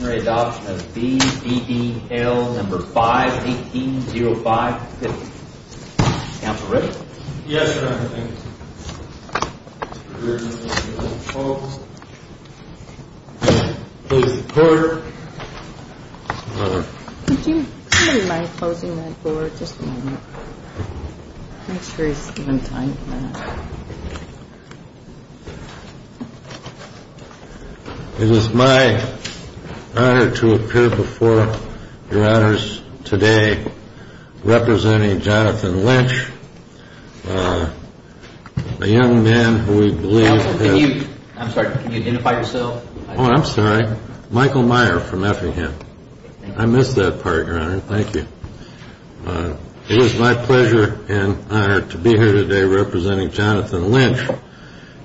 Adoption of B.D.D.L. Number 5-18-0-5-50. Council ready? Yes, Your Honor. Thank you. Close the court. Would you mind closing that board just for a minute? Make sure he's given time for that. It is my honor to appear before Your Honors today representing Jonathan Lynch, a young man who we believe... Counsel, can you, I'm sorry, can you identify yourself? Oh, I'm sorry. Michael Meyer from Effingham. I missed that part, Your Honor. Thank you. It is my pleasure and honor to be here today representing Jonathan Lynch,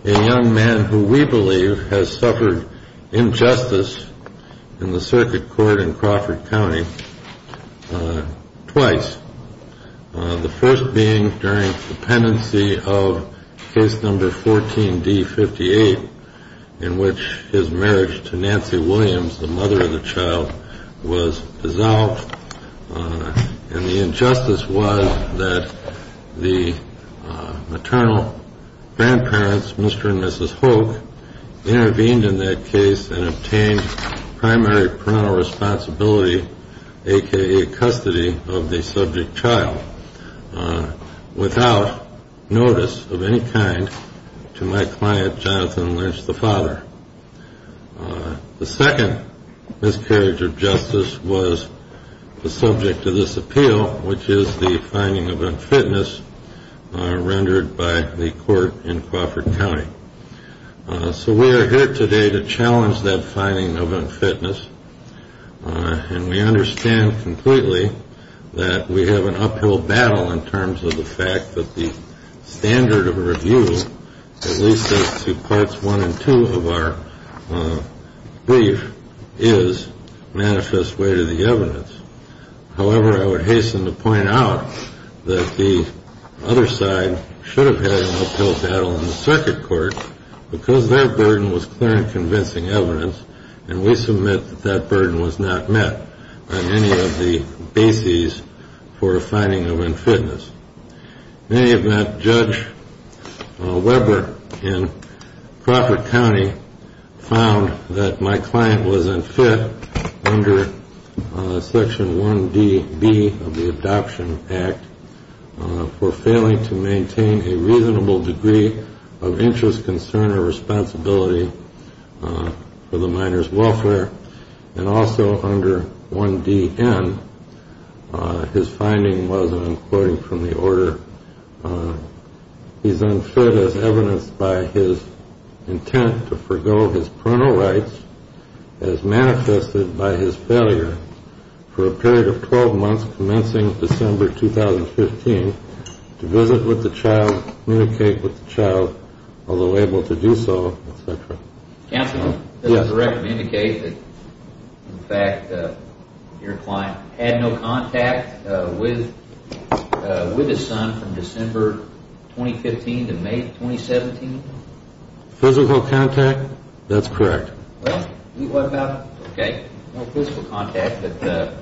a young man who we believe has suffered injustice in the circuit court in Crawford County twice. The first being during the pendency of case number 14-D-58 in which his marriage to Nancy Williams, the mother of the child, was dissolved. And the injustice was that the maternal grandparents, Mr. and Mrs. Hoke, intervened in that case and obtained primary parental responsibility, a.k.a. custody of the subject child, without notice of any kind to my client, Jonathan Lynch, the father. The second miscarriage of justice was the subject of this appeal, which is the finding of unfitness rendered by the court in Crawford County. So we are here today to challenge that finding of unfitness, and we understand completely that we have an uphill battle in terms of the fact that the standard of review, at least as to Parts 1 and 2 of our brief, is manifest way to the evidence. However, I would hasten to point out that the other side should have had an uphill battle in the circuit court because their burden was clear and convincing evidence, and we submit that that burden was not met on any of the bases for a finding of unfitness. In any event, Judge Weber in Crawford County found that my client was unfit under Section 1DB of the Adoption Act for failing to maintain a reasonable degree of interest, concern, or responsibility for the minor's welfare. And also under 1DN, his finding was, and I'm quoting from the order, he's unfit as evidenced by his intent to forego his parental rights as manifested by his failure for a period of 12 months commencing December 2015 to visit with the child, communicate with the child, although able to do so, etc. Counsel, does the record indicate that, in fact, your client had no contact with his son from December 2015 to May 2017? Physical contact? That's correct. Well, what about, okay, no physical contact, but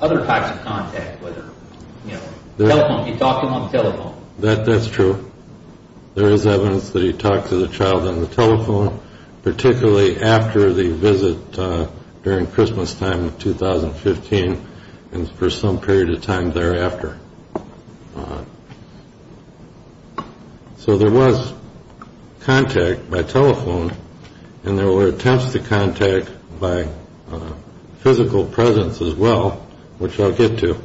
other types of contact, whether, you know, telephone. That's true. There is evidence that he talked to the child on the telephone, particularly after the visit during Christmastime of 2015 and for some period of time thereafter. So there was contact by telephone, and there were attempts to contact by physical presence as well, which I'll get to.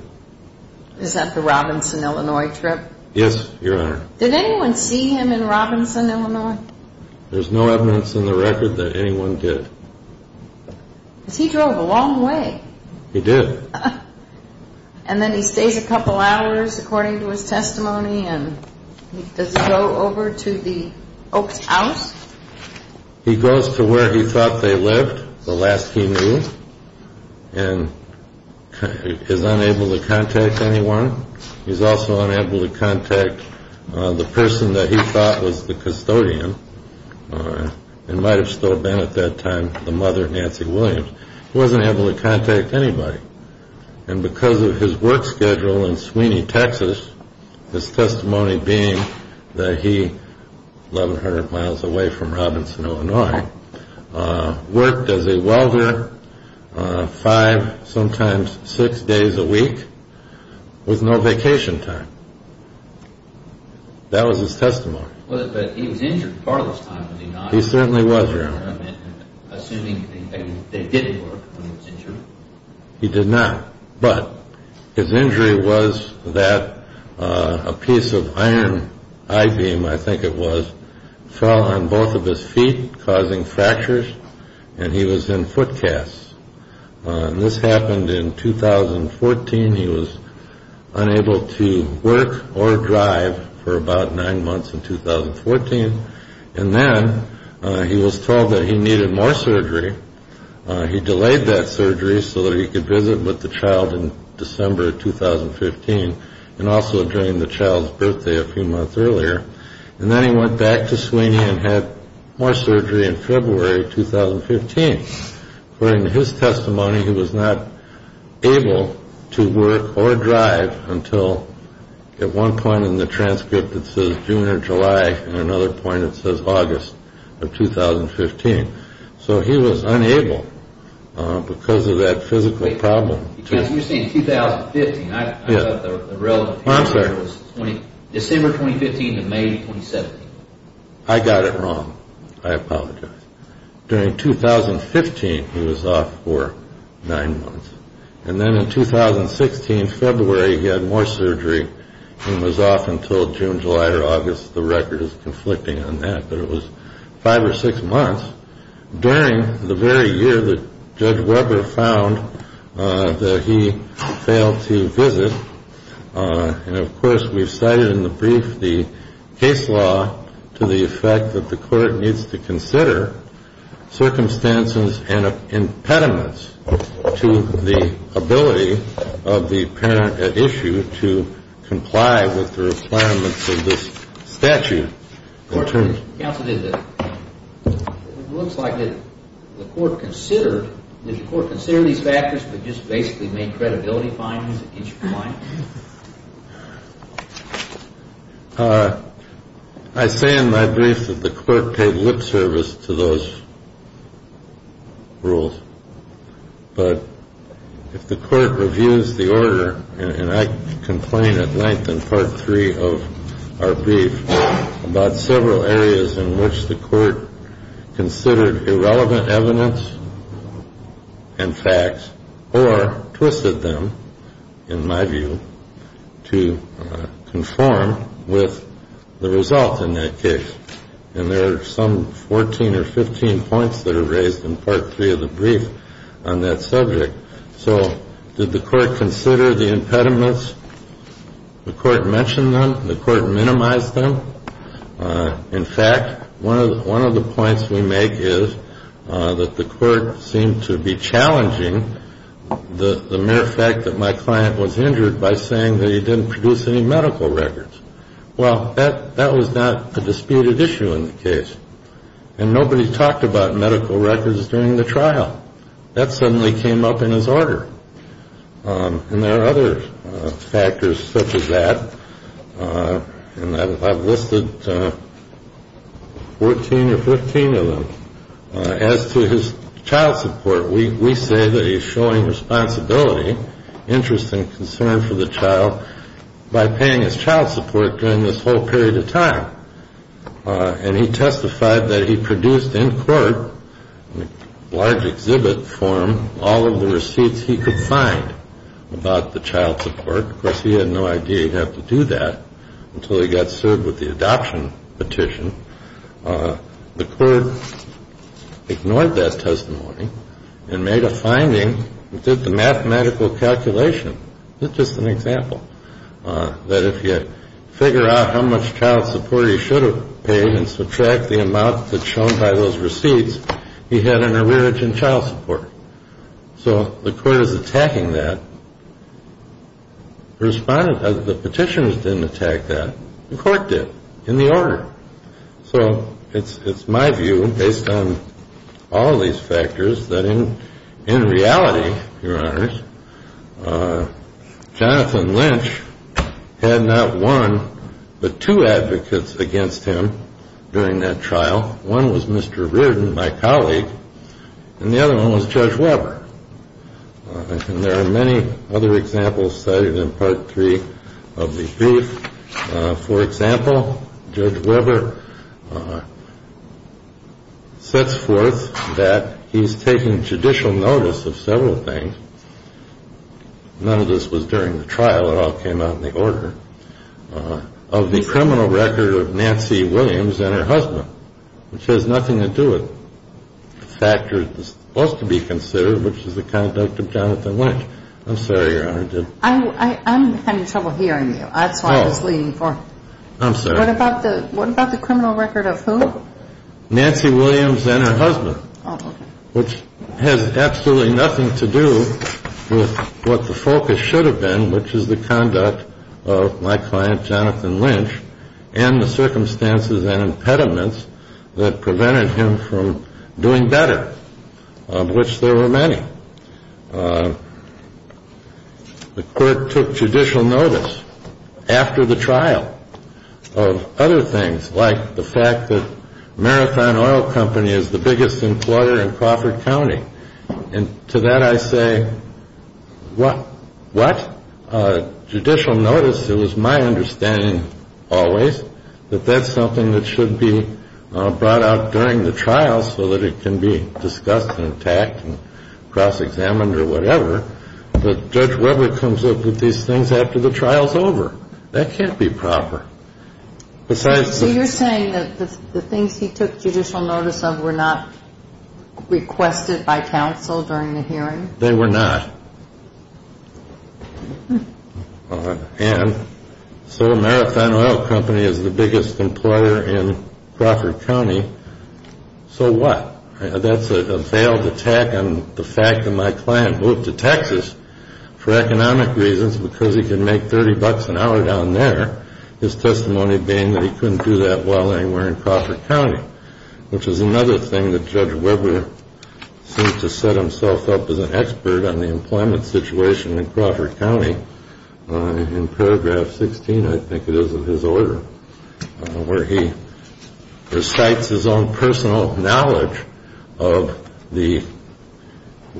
Is that the Robinson, Illinois trip? Yes, Your Honor. Did anyone see him in Robinson, Illinois? There's no evidence in the record that anyone did. Because he drove a long way. He did. And then he stays a couple hours, according to his testimony, and does he go over to the Oaks house? He goes to where he thought they lived, the last he knew, and is unable to contact anyone. He's also unable to contact the person that he thought was the custodian, and might have still been at that time, the mother, Nancy Williams. He wasn't able to contact anybody. And because of his work schedule in Sweeney, Texas, his testimony being that he, 1,100 miles away from Robinson, Illinois, worked as a welder five, sometimes six days a week, with no vacation time. That was his testimony. But he was injured part of this time, was he not? He certainly was, Your Honor. Assuming they didn't work when he was injured? He did not. But his injury was that a piece of iron, I-beam, I think it was, fell on both of his feet, causing fractures, and he was in foot casts. This happened in 2014. He was unable to work or drive for about nine months in 2014. And then he was told that he needed more surgery. He delayed that surgery so that he could visit with the child in December of 2015, and also during the child's birthday a few months earlier. And then he went back to Sweeney and had more surgery in February of 2015. According to his testimony, he was not able to work or drive until, at one point in the transcript, it says June or July, and at another point it says August of 2015. So he was unable because of that physical problem. You're saying 2015. I don't know the relevant date. I'm sorry. December 2015 to May 2017. I got it wrong. I apologize. During 2015, he was off for nine months. And then in 2016, February, he had more surgery and was off until June, July, or August. The record is conflicting on that. But it was five or six months during the very year that Judge Weber found that he failed to visit. And, of course, we've cited in the brief the case law to the effect that the court needs to consider circumstances and impediments to the ability of the parent at issue to comply with the requirements of this statute. Counsel, it looks like the court considered, did the court consider these factors but just basically made credibility findings against your client? I say in my brief that the court paid lip service to those rules. But if the court reviews the order, and I complain at length in Part 3 of our brief about several areas in which the court considered irrelevant evidence and facts or twisted them, in my view, to conform with the result in that case, and there are some 14 or 15 points that are raised in Part 3 of the brief on that subject. So did the court consider the impediments? The court mentioned them. The court minimized them. In fact, one of the points we make is that the court seemed to be challenging the mere fact that my client was injured by saying that he didn't produce any medical records. Well, that was not a disputed issue in the case. And nobody talked about medical records during the trial. That suddenly came up in his order. And there are other factors such as that, and I've listed 14 or 15 of them. As to his child support, we say that he's showing responsibility, interest and concern for the child by paying his child support during this whole period of time. And he testified that he produced in court, in large exhibit form, all of the receipts he could find about the child support. Of course, he had no idea he'd have to do that until he got served with the adoption petition. The court ignored that testimony and made a finding and did the mathematical calculation. It's just an example that if you figure out how much child support he should have paid and subtract the amount that's shown by those receipts, he had an allergic in child support. So the court is attacking that. The petitioners didn't attack that. The court did in the order. So it's my view, based on all these factors, that in reality, Your Honors, Jonathan Lynch had not one but two advocates against him during that trial. One was Mr. Reardon, my colleague, and the other one was Judge Weber. And there are many other examples cited in Part 3 of the brief. For example, Judge Weber sets forth that he's taken judicial notice of several things. None of this was during the trial. It all came out in the order of the criminal record of Nancy Williams and her husband, which has nothing to do with the factor that's supposed to be considered, which is the conduct of Jonathan Lynch. I'm sorry, Your Honor. I'm having trouble hearing you. That's why I was leaning forward. I'm sorry. What about the criminal record of who? Nancy Williams and her husband, which has absolutely nothing to do with what the focus should have been, which is the conduct of my client, Jonathan Lynch, and the circumstances and impediments that prevented him from doing better, of which there were many. The court took judicial notice after the trial of other things, like the fact that Marathon Oil Company is the biggest employer in Crawford County. And to that I say, what? Judicial notice? It was my understanding always that that's something that should be brought out during the trial so that it can be discussed and attacked and cross-examined or whatever, but Judge Weber comes up with these things after the trial's over. That can't be proper. So you're saying that the things he took judicial notice of were not requested by counsel during the hearing? They were not. And so Marathon Oil Company is the biggest employer in Crawford County. So what? That's a veiled attack on the fact that my client moved to Texas for economic reasons because he could make $30 an hour down there, his testimony being that he couldn't do that well anywhere in Crawford County, which is another thing that Judge Weber seems to set himself up as an expert on the employment situation in Crawford County. In paragraph 16, I think it is, of his order, where he recites his own personal knowledge of the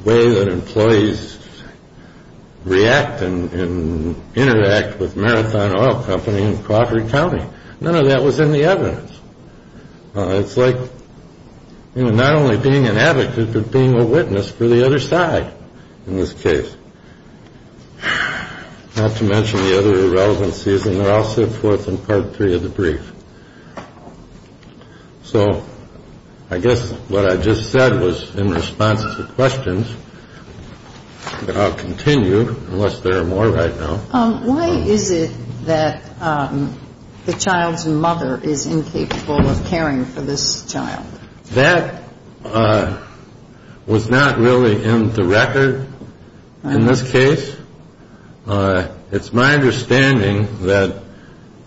way that employees react and interact with Marathon Oil Company in Crawford County. None of that was in the evidence. It's like not only being an advocate but being a witness for the other side in this case, not to mention the other irrelevancies, and they're all set forth in Part 3 of the brief. So I guess what I just said was in response to questions, but I'll continue unless there are more right now. Why is it that the child's mother is incapable of caring for this child? That was not really in the record in this case. It's my understanding that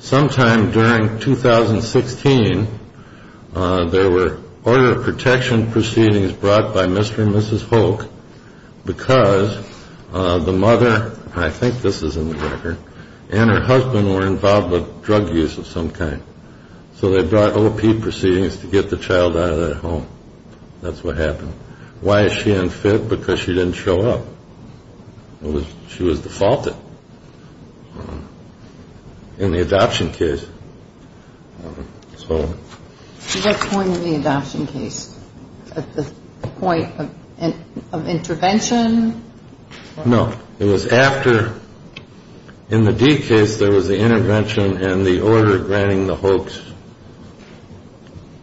sometime during 2016, there were order of protection proceedings brought by Mr. and Mrs. Holk because the mother, and I think this is in the record, and her husband were involved with drug use of some kind. So they brought O.P. proceedings to get the child out of that home. That's what happened. Why is she unfit? Because she didn't show up. She was defaulted in the adoption case. At what point in the adoption case? At the point of intervention? No. It was after in the D case there was the intervention and the order granting the Holks,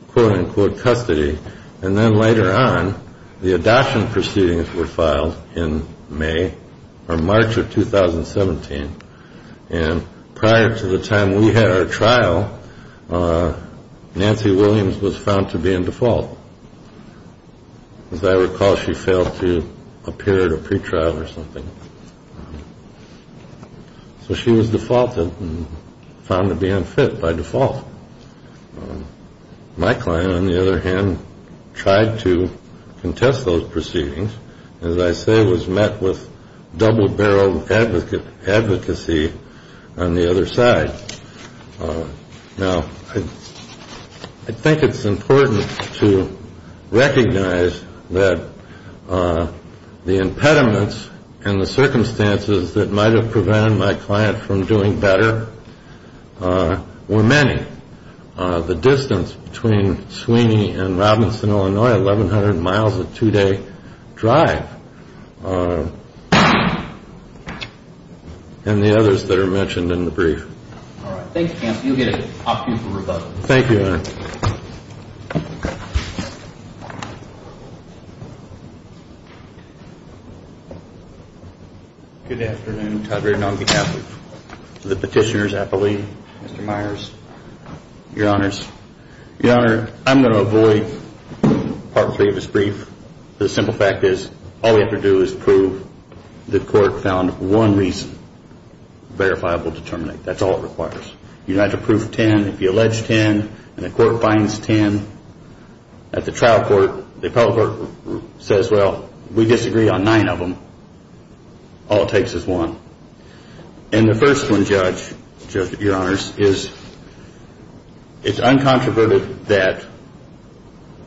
quote-unquote, custody. And then later on, the adoption proceedings were filed in May or March of 2017. And prior to the time we had our trial, Nancy Williams was found to be in default. As I recall, she failed to appear at a pretrial or something. So she was defaulted and found to be unfit by default. My client, on the other hand, tried to contest those proceedings and, as I say, was met with double-barreled advocacy on the other side. Now, I think it's important to recognize that the impediments and the circumstances that might have prevented my client from doing better were many. The distance between Sweeney and Robinson, Illinois, 1,100 miles a two-day drive, and the others that are mentioned in the brief. All right. Thank you, counsel. You'll get an option for rebuttal. Thank you, Your Honor. Good afternoon. Todd Redenong, Catholic. To the petitioners, I believe. Mr. Myers. Your Honors. Your Honor, I'm going to avoid Part 3 of this brief. The simple fact is all we have to do is prove the court found one reason verifiable to terminate. That's all it requires. You don't have to prove ten. If you allege ten and the court finds ten, at the trial court, the appellate court says, well, we disagree on nine of them. All it takes is one. And the first one, Judge, Your Honors, is it's uncontroverted that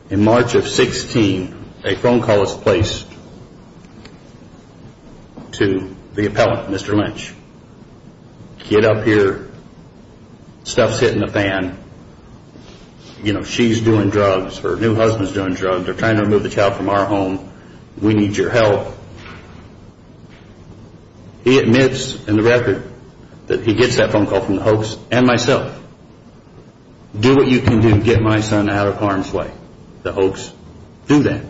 in March of 16, a phone call was placed to the appellate, Mr. Lynch. Get up here. Stuff's hitting the fan. You know, she's doing drugs or her new husband's doing drugs. They're trying to remove the child from our home. We need your help. He admits in the record that he gets that phone call from the hoax and myself. Do what you can do to get my son out of harm's way. The hoax do that.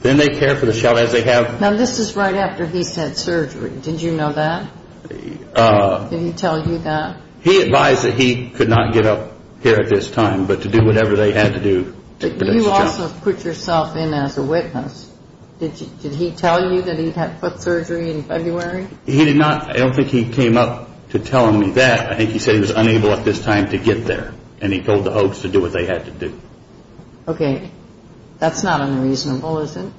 Then they care for the child as they have. Now, this is right after he's had surgery. Did you know that? Did he tell you that? He advised that he could not get up here at this time, but to do whatever they had to do to protect the child. You also put yourself in as a witness. Did he tell you that he had foot surgery in February? He did not. I don't think he came up to tell me that. I think he said he was unable at this time to get there, and he told the hoax to do what they had to do. Okay. That's not unreasonable, is it?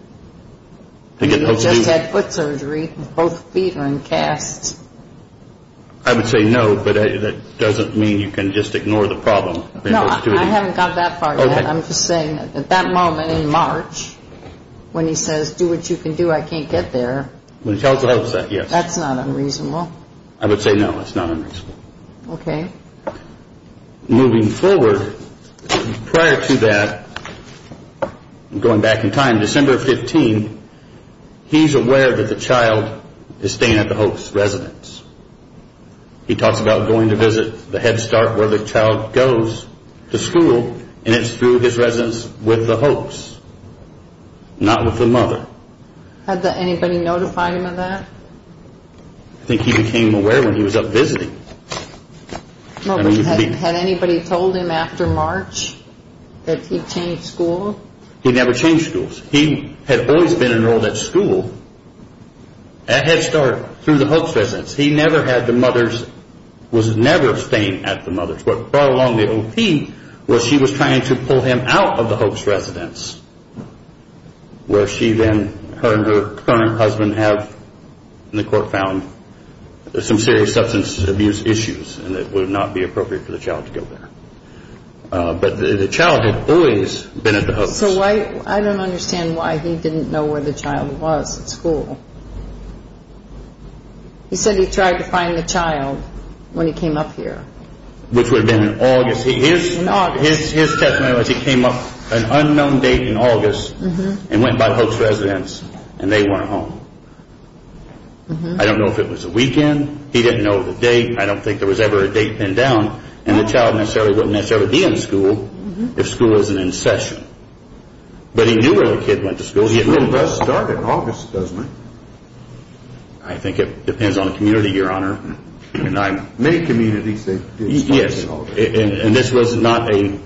He just had foot surgery. Both feet are in casts. I would say no, but that doesn't mean you can just ignore the problem. No, I haven't got that far yet. I'm just saying at that moment in March, when he says, do what you can do, I can't get there. When he tells the hoax that, yes. That's not unreasonable. I would say no, it's not unreasonable. Okay. Moving forward, prior to that, going back in time, December 15, he's aware that the child is staying at the hoax residence. He talks about going to visit the Head Start where the child goes to school, and it's through his residence with the hoax, not with the mother. Had anybody notified him of that? I think he became aware when he was up visiting. Had anybody told him after March that he changed school? He never changed schools. He had always been enrolled at school at Head Start through the hoax residence. He never had the mother's, was never staying at the mother's. What brought along the O.P. was she was trying to pull him out of the hoax residence, where she then, her and her current husband have, and the court found, some serious substance abuse issues, and it would not be appropriate for the child to go there. So I don't understand why he didn't know where the child was at school. He said he tried to find the child when he came up here. Which would have been in August. In August. His testimony was he came up at an unknown date in August and went by the hoax residence, and they weren't home. I don't know if it was a weekend. He didn't know the date. I don't think there was ever a date pinned down, and the child necessarily wouldn't necessarily be in school if school isn't in session. But he knew where the kid went to school. School does start in August, doesn't it? I think it depends on the community, Your Honor. Many communities, they do start in August. Yes, and this was not a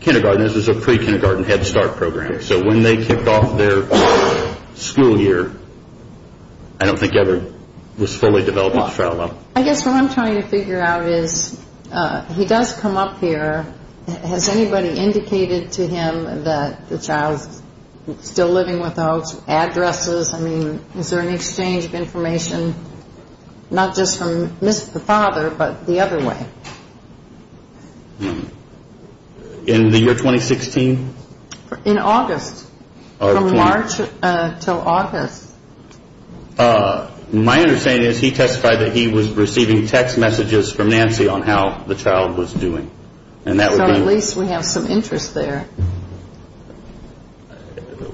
kindergarten. This was a pre-kindergarten Head Start program. So when they kicked off their school year, I don't think Everett was fully developed and shrouded up. I guess what I'm trying to figure out is he does come up here. Has anybody indicated to him that the child is still living with the hoax? Addresses? I mean, is there an exchange of information, not just from the father, but the other way? In the year 2016? In August. From March until August. My understanding is he testified that he was receiving text messages from Nancy on how the child was doing. So at least we have some interest there.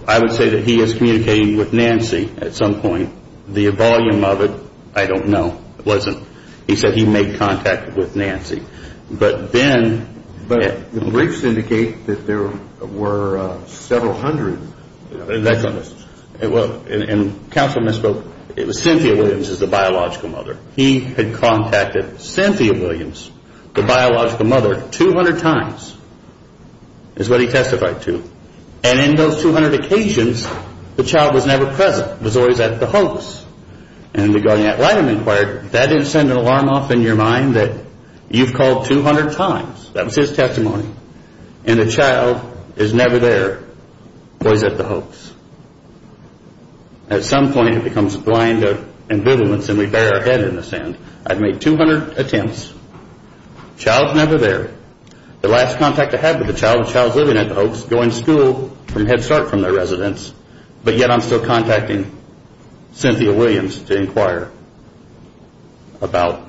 I would say that he is communicating with Nancy at some point. The volume of it, I don't know. It wasn't. He said he made contact with Nancy. But then the briefs indicate that there were several hundred. And counsel misspoke. It was Cynthia Williams as the biological mother. He had contacted Cynthia Williams, the biological mother, 200 times is what he testified to. And in those 200 occasions, the child was never present. It was always at the hoax. And the Guardian-At-Light had inquired, that didn't send an alarm off in your mind that you've called 200 times? That was his testimony. And the child is never there. Always at the hoax. At some point, it becomes blind ambivalence and we bury our head in the sand. I've made 200 attempts. Child's never there. The last contact I had with the child, the child's living at the hoax, going to school from Head Start from their residence. But yet I'm still contacting Cynthia Williams to inquire about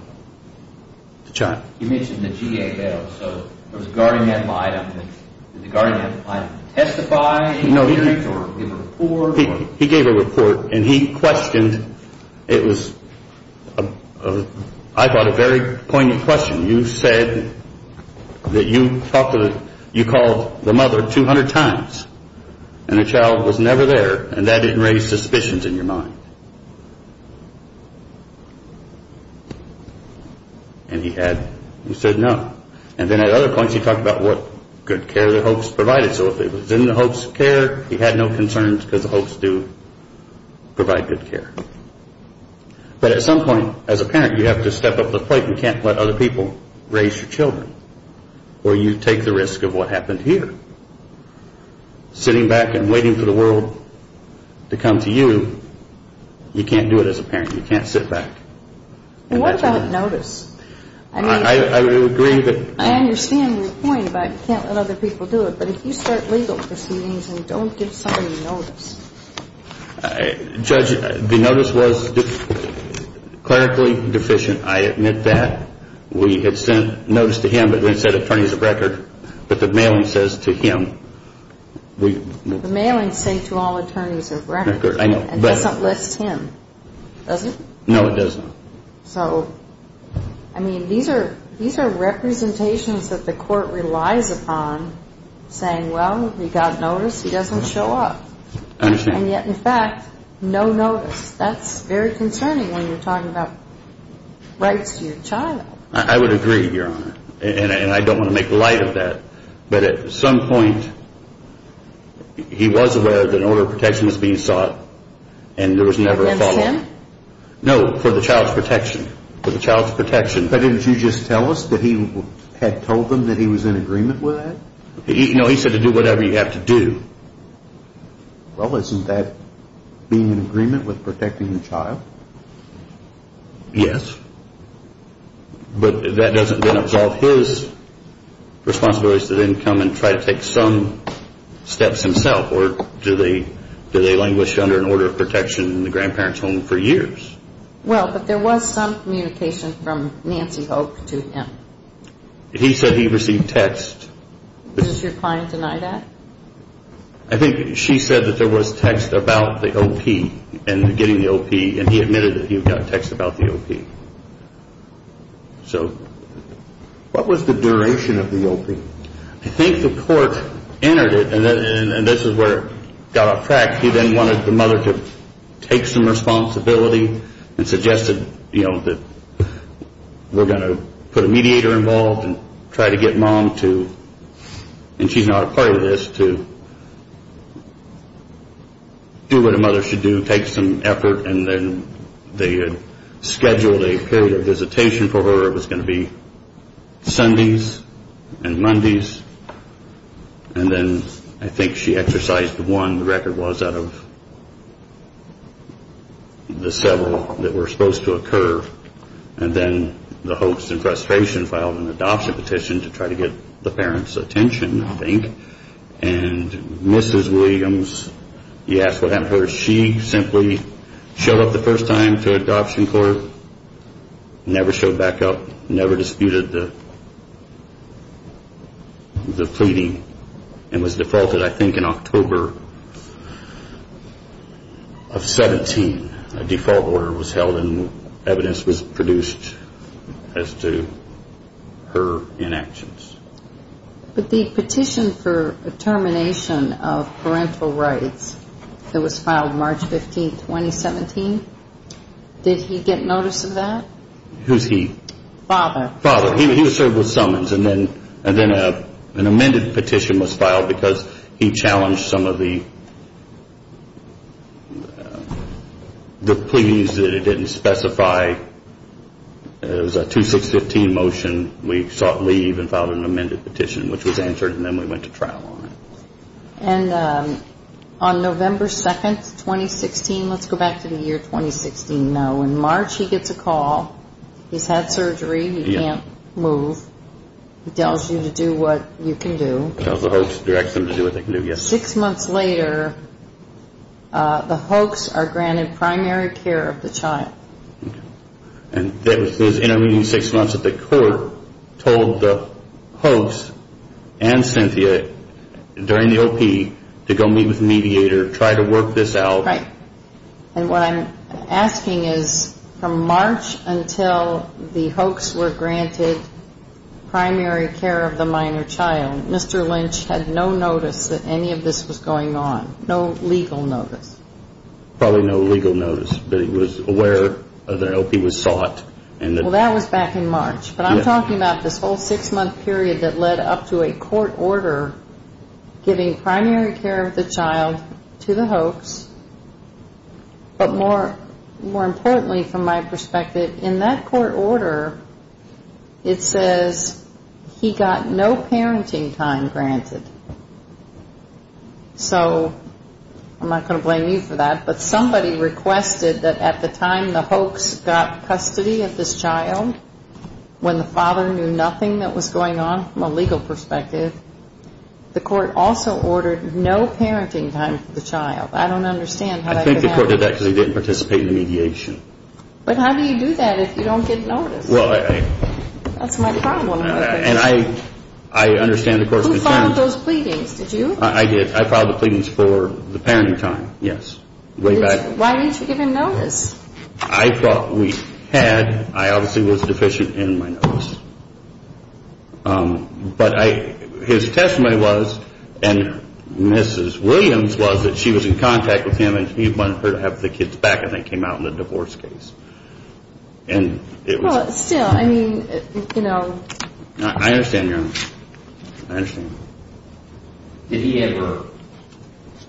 the child. You mentioned the GABL. So was the Guardian-At-Light on this? Did the Guardian-At-Light testify? Did he give a report? He gave a report and he questioned. It was, I thought, a very poignant question. You said that you called the mother 200 times. And the child was never there. And that didn't raise suspicions in your mind. And he said no. And then at other points he talked about what good care the hoax provided. So if it was in the hoax care, he had no concerns because the hoax do provide good care. But at some point, as a parent, you have to step up to the plate. You can't let other people raise your children. Or you take the risk of what happened here. Sitting back and waiting for the world to come to you, you can't do it as a parent. You can't sit back. What about notice? I understand your point about you can't let other people do it. But if you start legal proceedings and don't give somebody notice. Judge, the notice was clerically deficient. I admit that. We had sent notice to him but didn't say attorneys of record. But the mailing says to him. The mailings say to all attorneys of record. It doesn't list him, does it? No, it doesn't. So, I mean, these are representations that the court relies upon saying, well, we got notice. He doesn't show up. I understand. And yet, in fact, no notice. That's very concerning when you're talking about rights to your child. I would agree, Your Honor. And I don't want to make light of that. But at some point, he was aware that an order of protection was being sought. And there was never a follow-up. Against him? No, for the child's protection. For the child's protection. But didn't you just tell us that he had told them that he was in agreement with that? No, he said to do whatever you have to do. Well, isn't that being in agreement with protecting the child? Yes. But that doesn't then absolve his responsibilities to then come and try to take some steps himself. Or do they languish under an order of protection in the grandparent's home for years? Well, but there was some communication from Nancy Hope to him. He said he received text. Does your client deny that? I think she said that there was text about the OP and getting the OP, and he admitted that he got text about the OP. So what was the duration of the OP? I think the court entered it, and this is where it got off track. He then wanted the mother to take some responsibility and suggested, you know, that we're going to put a mediator involved and try to get Mom to, and she's not a part of this, to do what a mother should do, take some effort, and then they had scheduled a period of visitation for her. It was going to be Sundays and Mondays, and then I think she exercised the one the record was out of the several that were supposed to occur, and then the hoax and frustration filed an adoption petition to try to get the parents' attention, I think, and Mrs. Williams, you ask what happened to her, she simply showed up the first time to adoption court, never showed back up, never disputed the pleading, and was defaulted, I think, in October of 17. A default order was held and evidence was produced as to her inactions. But the petition for termination of parental rights that was filed March 15, 2017, did he get notice of that? Who's he? Father. He was served with summons, and then an amended petition was filed because he challenged some of the pleadings that it didn't specify. It was a 2-6-15 motion. We sought leave and filed an amended petition, which was answered, and then we went to trial on it. And on November 2, 2016, let's go back to the year 2016 now, in March, he gets a call. He's had surgery. He can't move. He tells you to do what you can do. Tells the hoax, directs them to do what they can do, yes. Six months later, the hoax are granted primary care of the child. And those intervening six months at the court told the hoax and Cynthia during the OP to go meet with the mediator, try to work this out. Right. And what I'm asking is from March until the hoax were granted primary care of the minor child, Mr. Lynch had no notice that any of this was going on, no legal notice. Probably no legal notice, but he was aware of the OP was sought. Well, that was back in March. But I'm talking about this whole six-month period that led up to a court order giving primary care of the child to the hoax. But more importantly from my perspective, in that court order, it says he got no parenting time granted. So I'm not going to blame you for that, but somebody requested that at the time the hoax got custody of this child, when the father knew nothing that was going on from a legal perspective, the court also ordered no parenting time for the child. I don't understand how that could happen. I think the court did that because he didn't participate in the mediation. But how do you do that if you don't get notice? That's my problem. And I understand the court's concern. Who filed those pleadings? Did you? I did. I filed the pleadings for the parenting time, yes, way back. Why didn't you give him notice? I thought we had. I obviously was deficient in my notice. But his testimony was, and Mrs. Williams was, that she was in contact with him and he wanted her to have the kids back and they came out in the divorce case. Still, I mean, you know. I understand, Your Honor. I understand. Did he ever,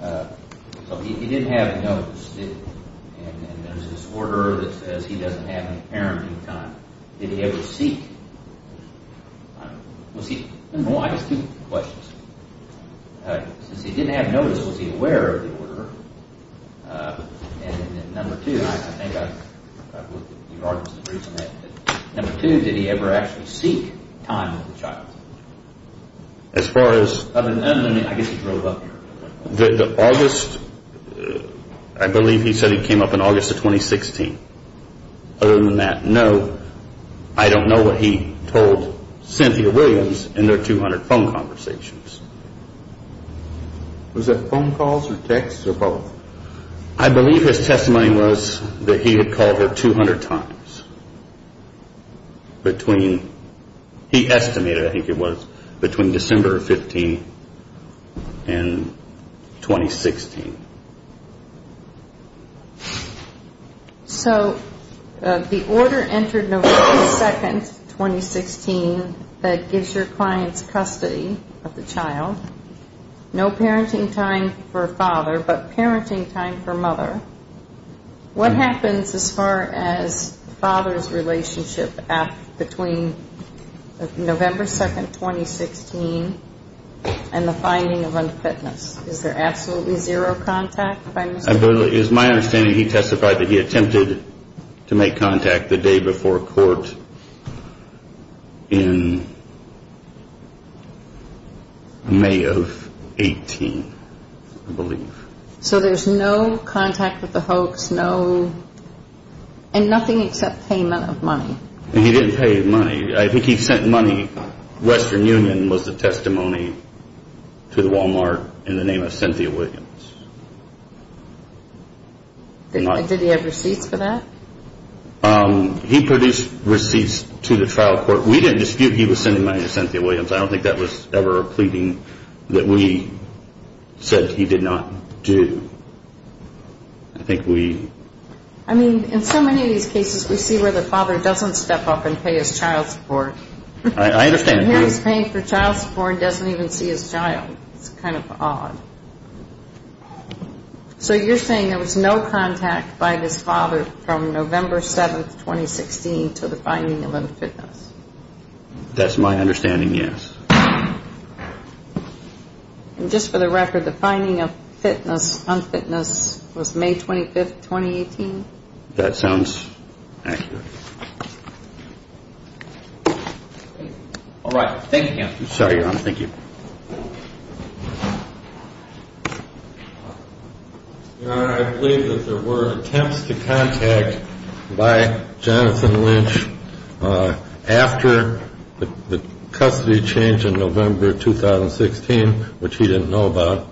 so he didn't have notice, and there's this order that says he doesn't have any parenting time. Did he ever seek? Was he, well, I have two questions. Since he didn't have notice, was he aware of the order? And then number two, I think I've looked at your arguments, number two, did he ever actually seek time with the child? As far as. I guess he drove up here. The August, I believe he said he came up in August of 2016. Other than that, no. I don't know what he told Cynthia Williams in their 200 phone conversations. Was that phone calls or texts or both? I believe his testimony was that he had called her 200 times between, he estimated, I think it was, between December 15th and 2016. So the order entered November 2nd, 2016, that gives your clients custody of the child. No parenting time for father, but parenting time for mother. What happens as far as father's relationship between November 2nd, 2016, and the finding of unfitness? Is there absolutely zero contact by Mr. Williams? It's my understanding he testified that he attempted to make contact the day before court in May of 18, I believe. So there's no contact with the hoax, no, and nothing except payment of money. He didn't pay money. I think he sent money. Western Union was the testimony to the Walmart in the name of Cynthia Williams. Did he have receipts for that? He produced receipts to the trial court. We didn't dispute he was sending money to Cynthia Williams. I don't think that was ever a pleading that we said he did not do. I think we... I mean, in so many of these cases, we see where the father doesn't step up and pay his child support. I understand. He was paying for child support and doesn't even see his child. It's kind of odd. So you're saying there was no contact by this father from November 7, 2016, to the finding of unfitness? That's my understanding, yes. And just for the record, the finding of unfitness was May 25, 2018? That sounds accurate. All right. Thank you, Counselor. I'm sorry, Your Honor. Thank you. Your Honor, I believe that there were attempts to contact by Jonathan Lynch after the custody changed in November 2016, which he didn't know about,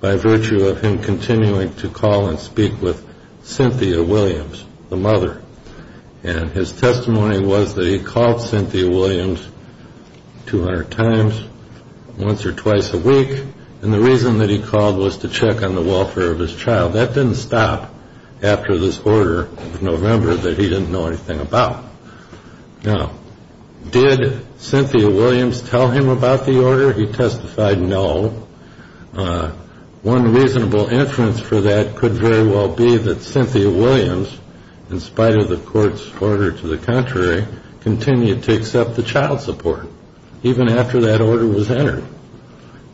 by virtue of him continuing to call and speak with Cynthia Williams, the mother. And his testimony was that he called Cynthia Williams 200 times, once or twice a week, and the reason that he called was to check on the welfare of his child. That didn't stop after this order of November that he didn't know anything about. Now, did Cynthia Williams tell him about the order? He testified no. One reasonable inference for that could very well be that Cynthia Williams, in spite of the court's order to the contrary, continued to accept the child support, even after that order was entered.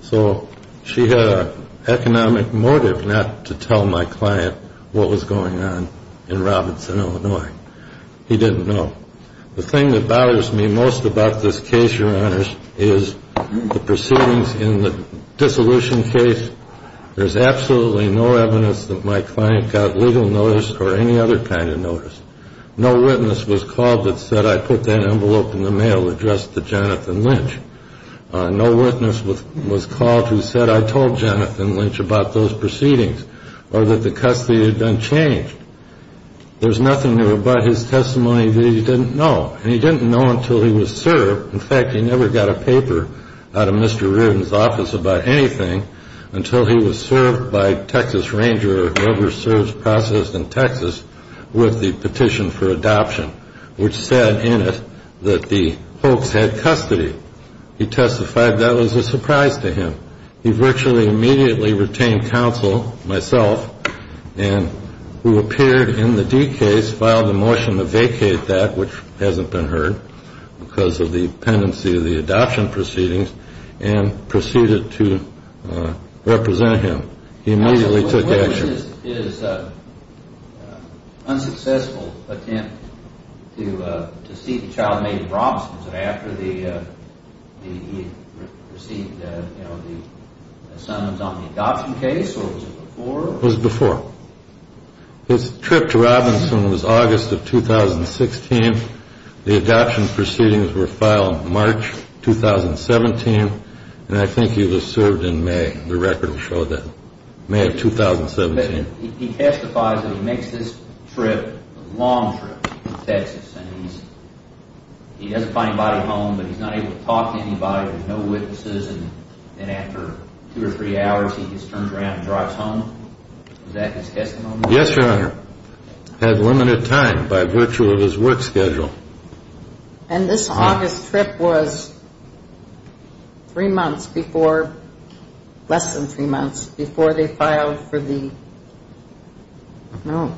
So she had an economic motive not to tell my client what was going on in Robinson, Illinois. He didn't know. The thing that bothers me most about this case, Your Honor, is the proceedings in the dissolution case. There's absolutely no evidence that my client got legal notice or any other kind of notice. No witness was called that said, I put that envelope in the mail addressed to Jonathan Lynch. No witness was called who said, I told Jonathan Lynch about those proceedings or that the custody had been changed. There's nothing there but his testimony that he didn't know, and he didn't know until he was served. In fact, he never got a paper out of Mr. Reardon's office about anything until he was served by Texas Ranger or whoever serves process in Texas with the petition for adoption, which said in it that the folks had custody. He testified that was a surprise to him. He virtually immediately retained counsel, myself, and who appeared in the D case filed a motion to vacate that, which hasn't been heard because of the pendency of the adoption proceedings, and proceeded to represent him. He immediately took action. This is an unsuccessful attempt to see the child made in Robinson. Was it after he received the summons on the adoption case, or was it before? It was before. His trip to Robinson was August of 2016. The adoption proceedings were filed March 2017, and I think he was served in May. The record will show that, May of 2017. He testifies that he makes this trip, a long trip to Texas, and he doesn't find anybody home, but he's not able to talk to anybody. There's no witnesses, and after two or three hours, he just turns around and drives home. Is that his testimony? Yes, Your Honor. Had limited time by virtue of his work schedule. And this August trip was three months before, less than three months, before they filed for the, no,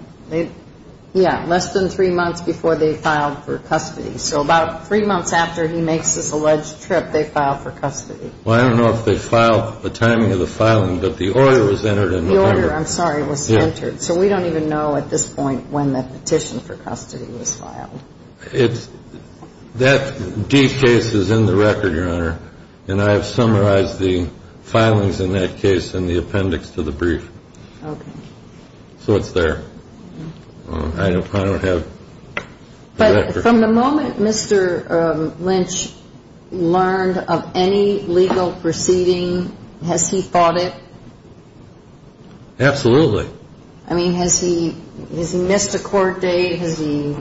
yeah, less than three months before they filed for custody. So about three months after he makes this alleged trip, they filed for custody. Well, I don't know if they filed, the timing of the filing, but the order was entered in November. The order, I'm sorry, was entered. So we don't even know at this point when the petition for custody was filed. It's, that D case is in the record, Your Honor, and I have summarized the filings in that case in the appendix to the brief. Okay. So it's there. I don't have the record. But from the moment Mr. Lynch learned of any legal proceeding, has he fought it? Absolutely. I mean, has he missed a court date? Has he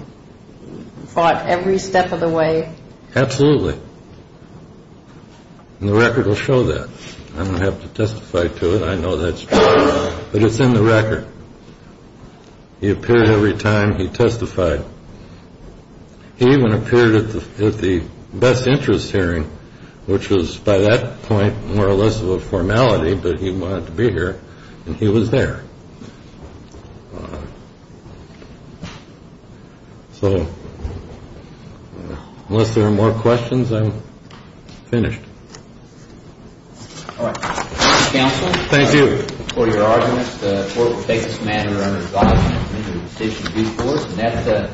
fought every step of the way? Absolutely. And the record will show that. I'm going to have to testify to it. I know that's true. But it's in the record. He appeared every time he testified. He even appeared at the best interest hearing, which was by that point more or less of a formality, but he wanted to be here, and he was there. So unless there are more questions, I'm finished. All right. Counsel. Thank you. According to your arguments, the court will take this matter under review. The decision is yours.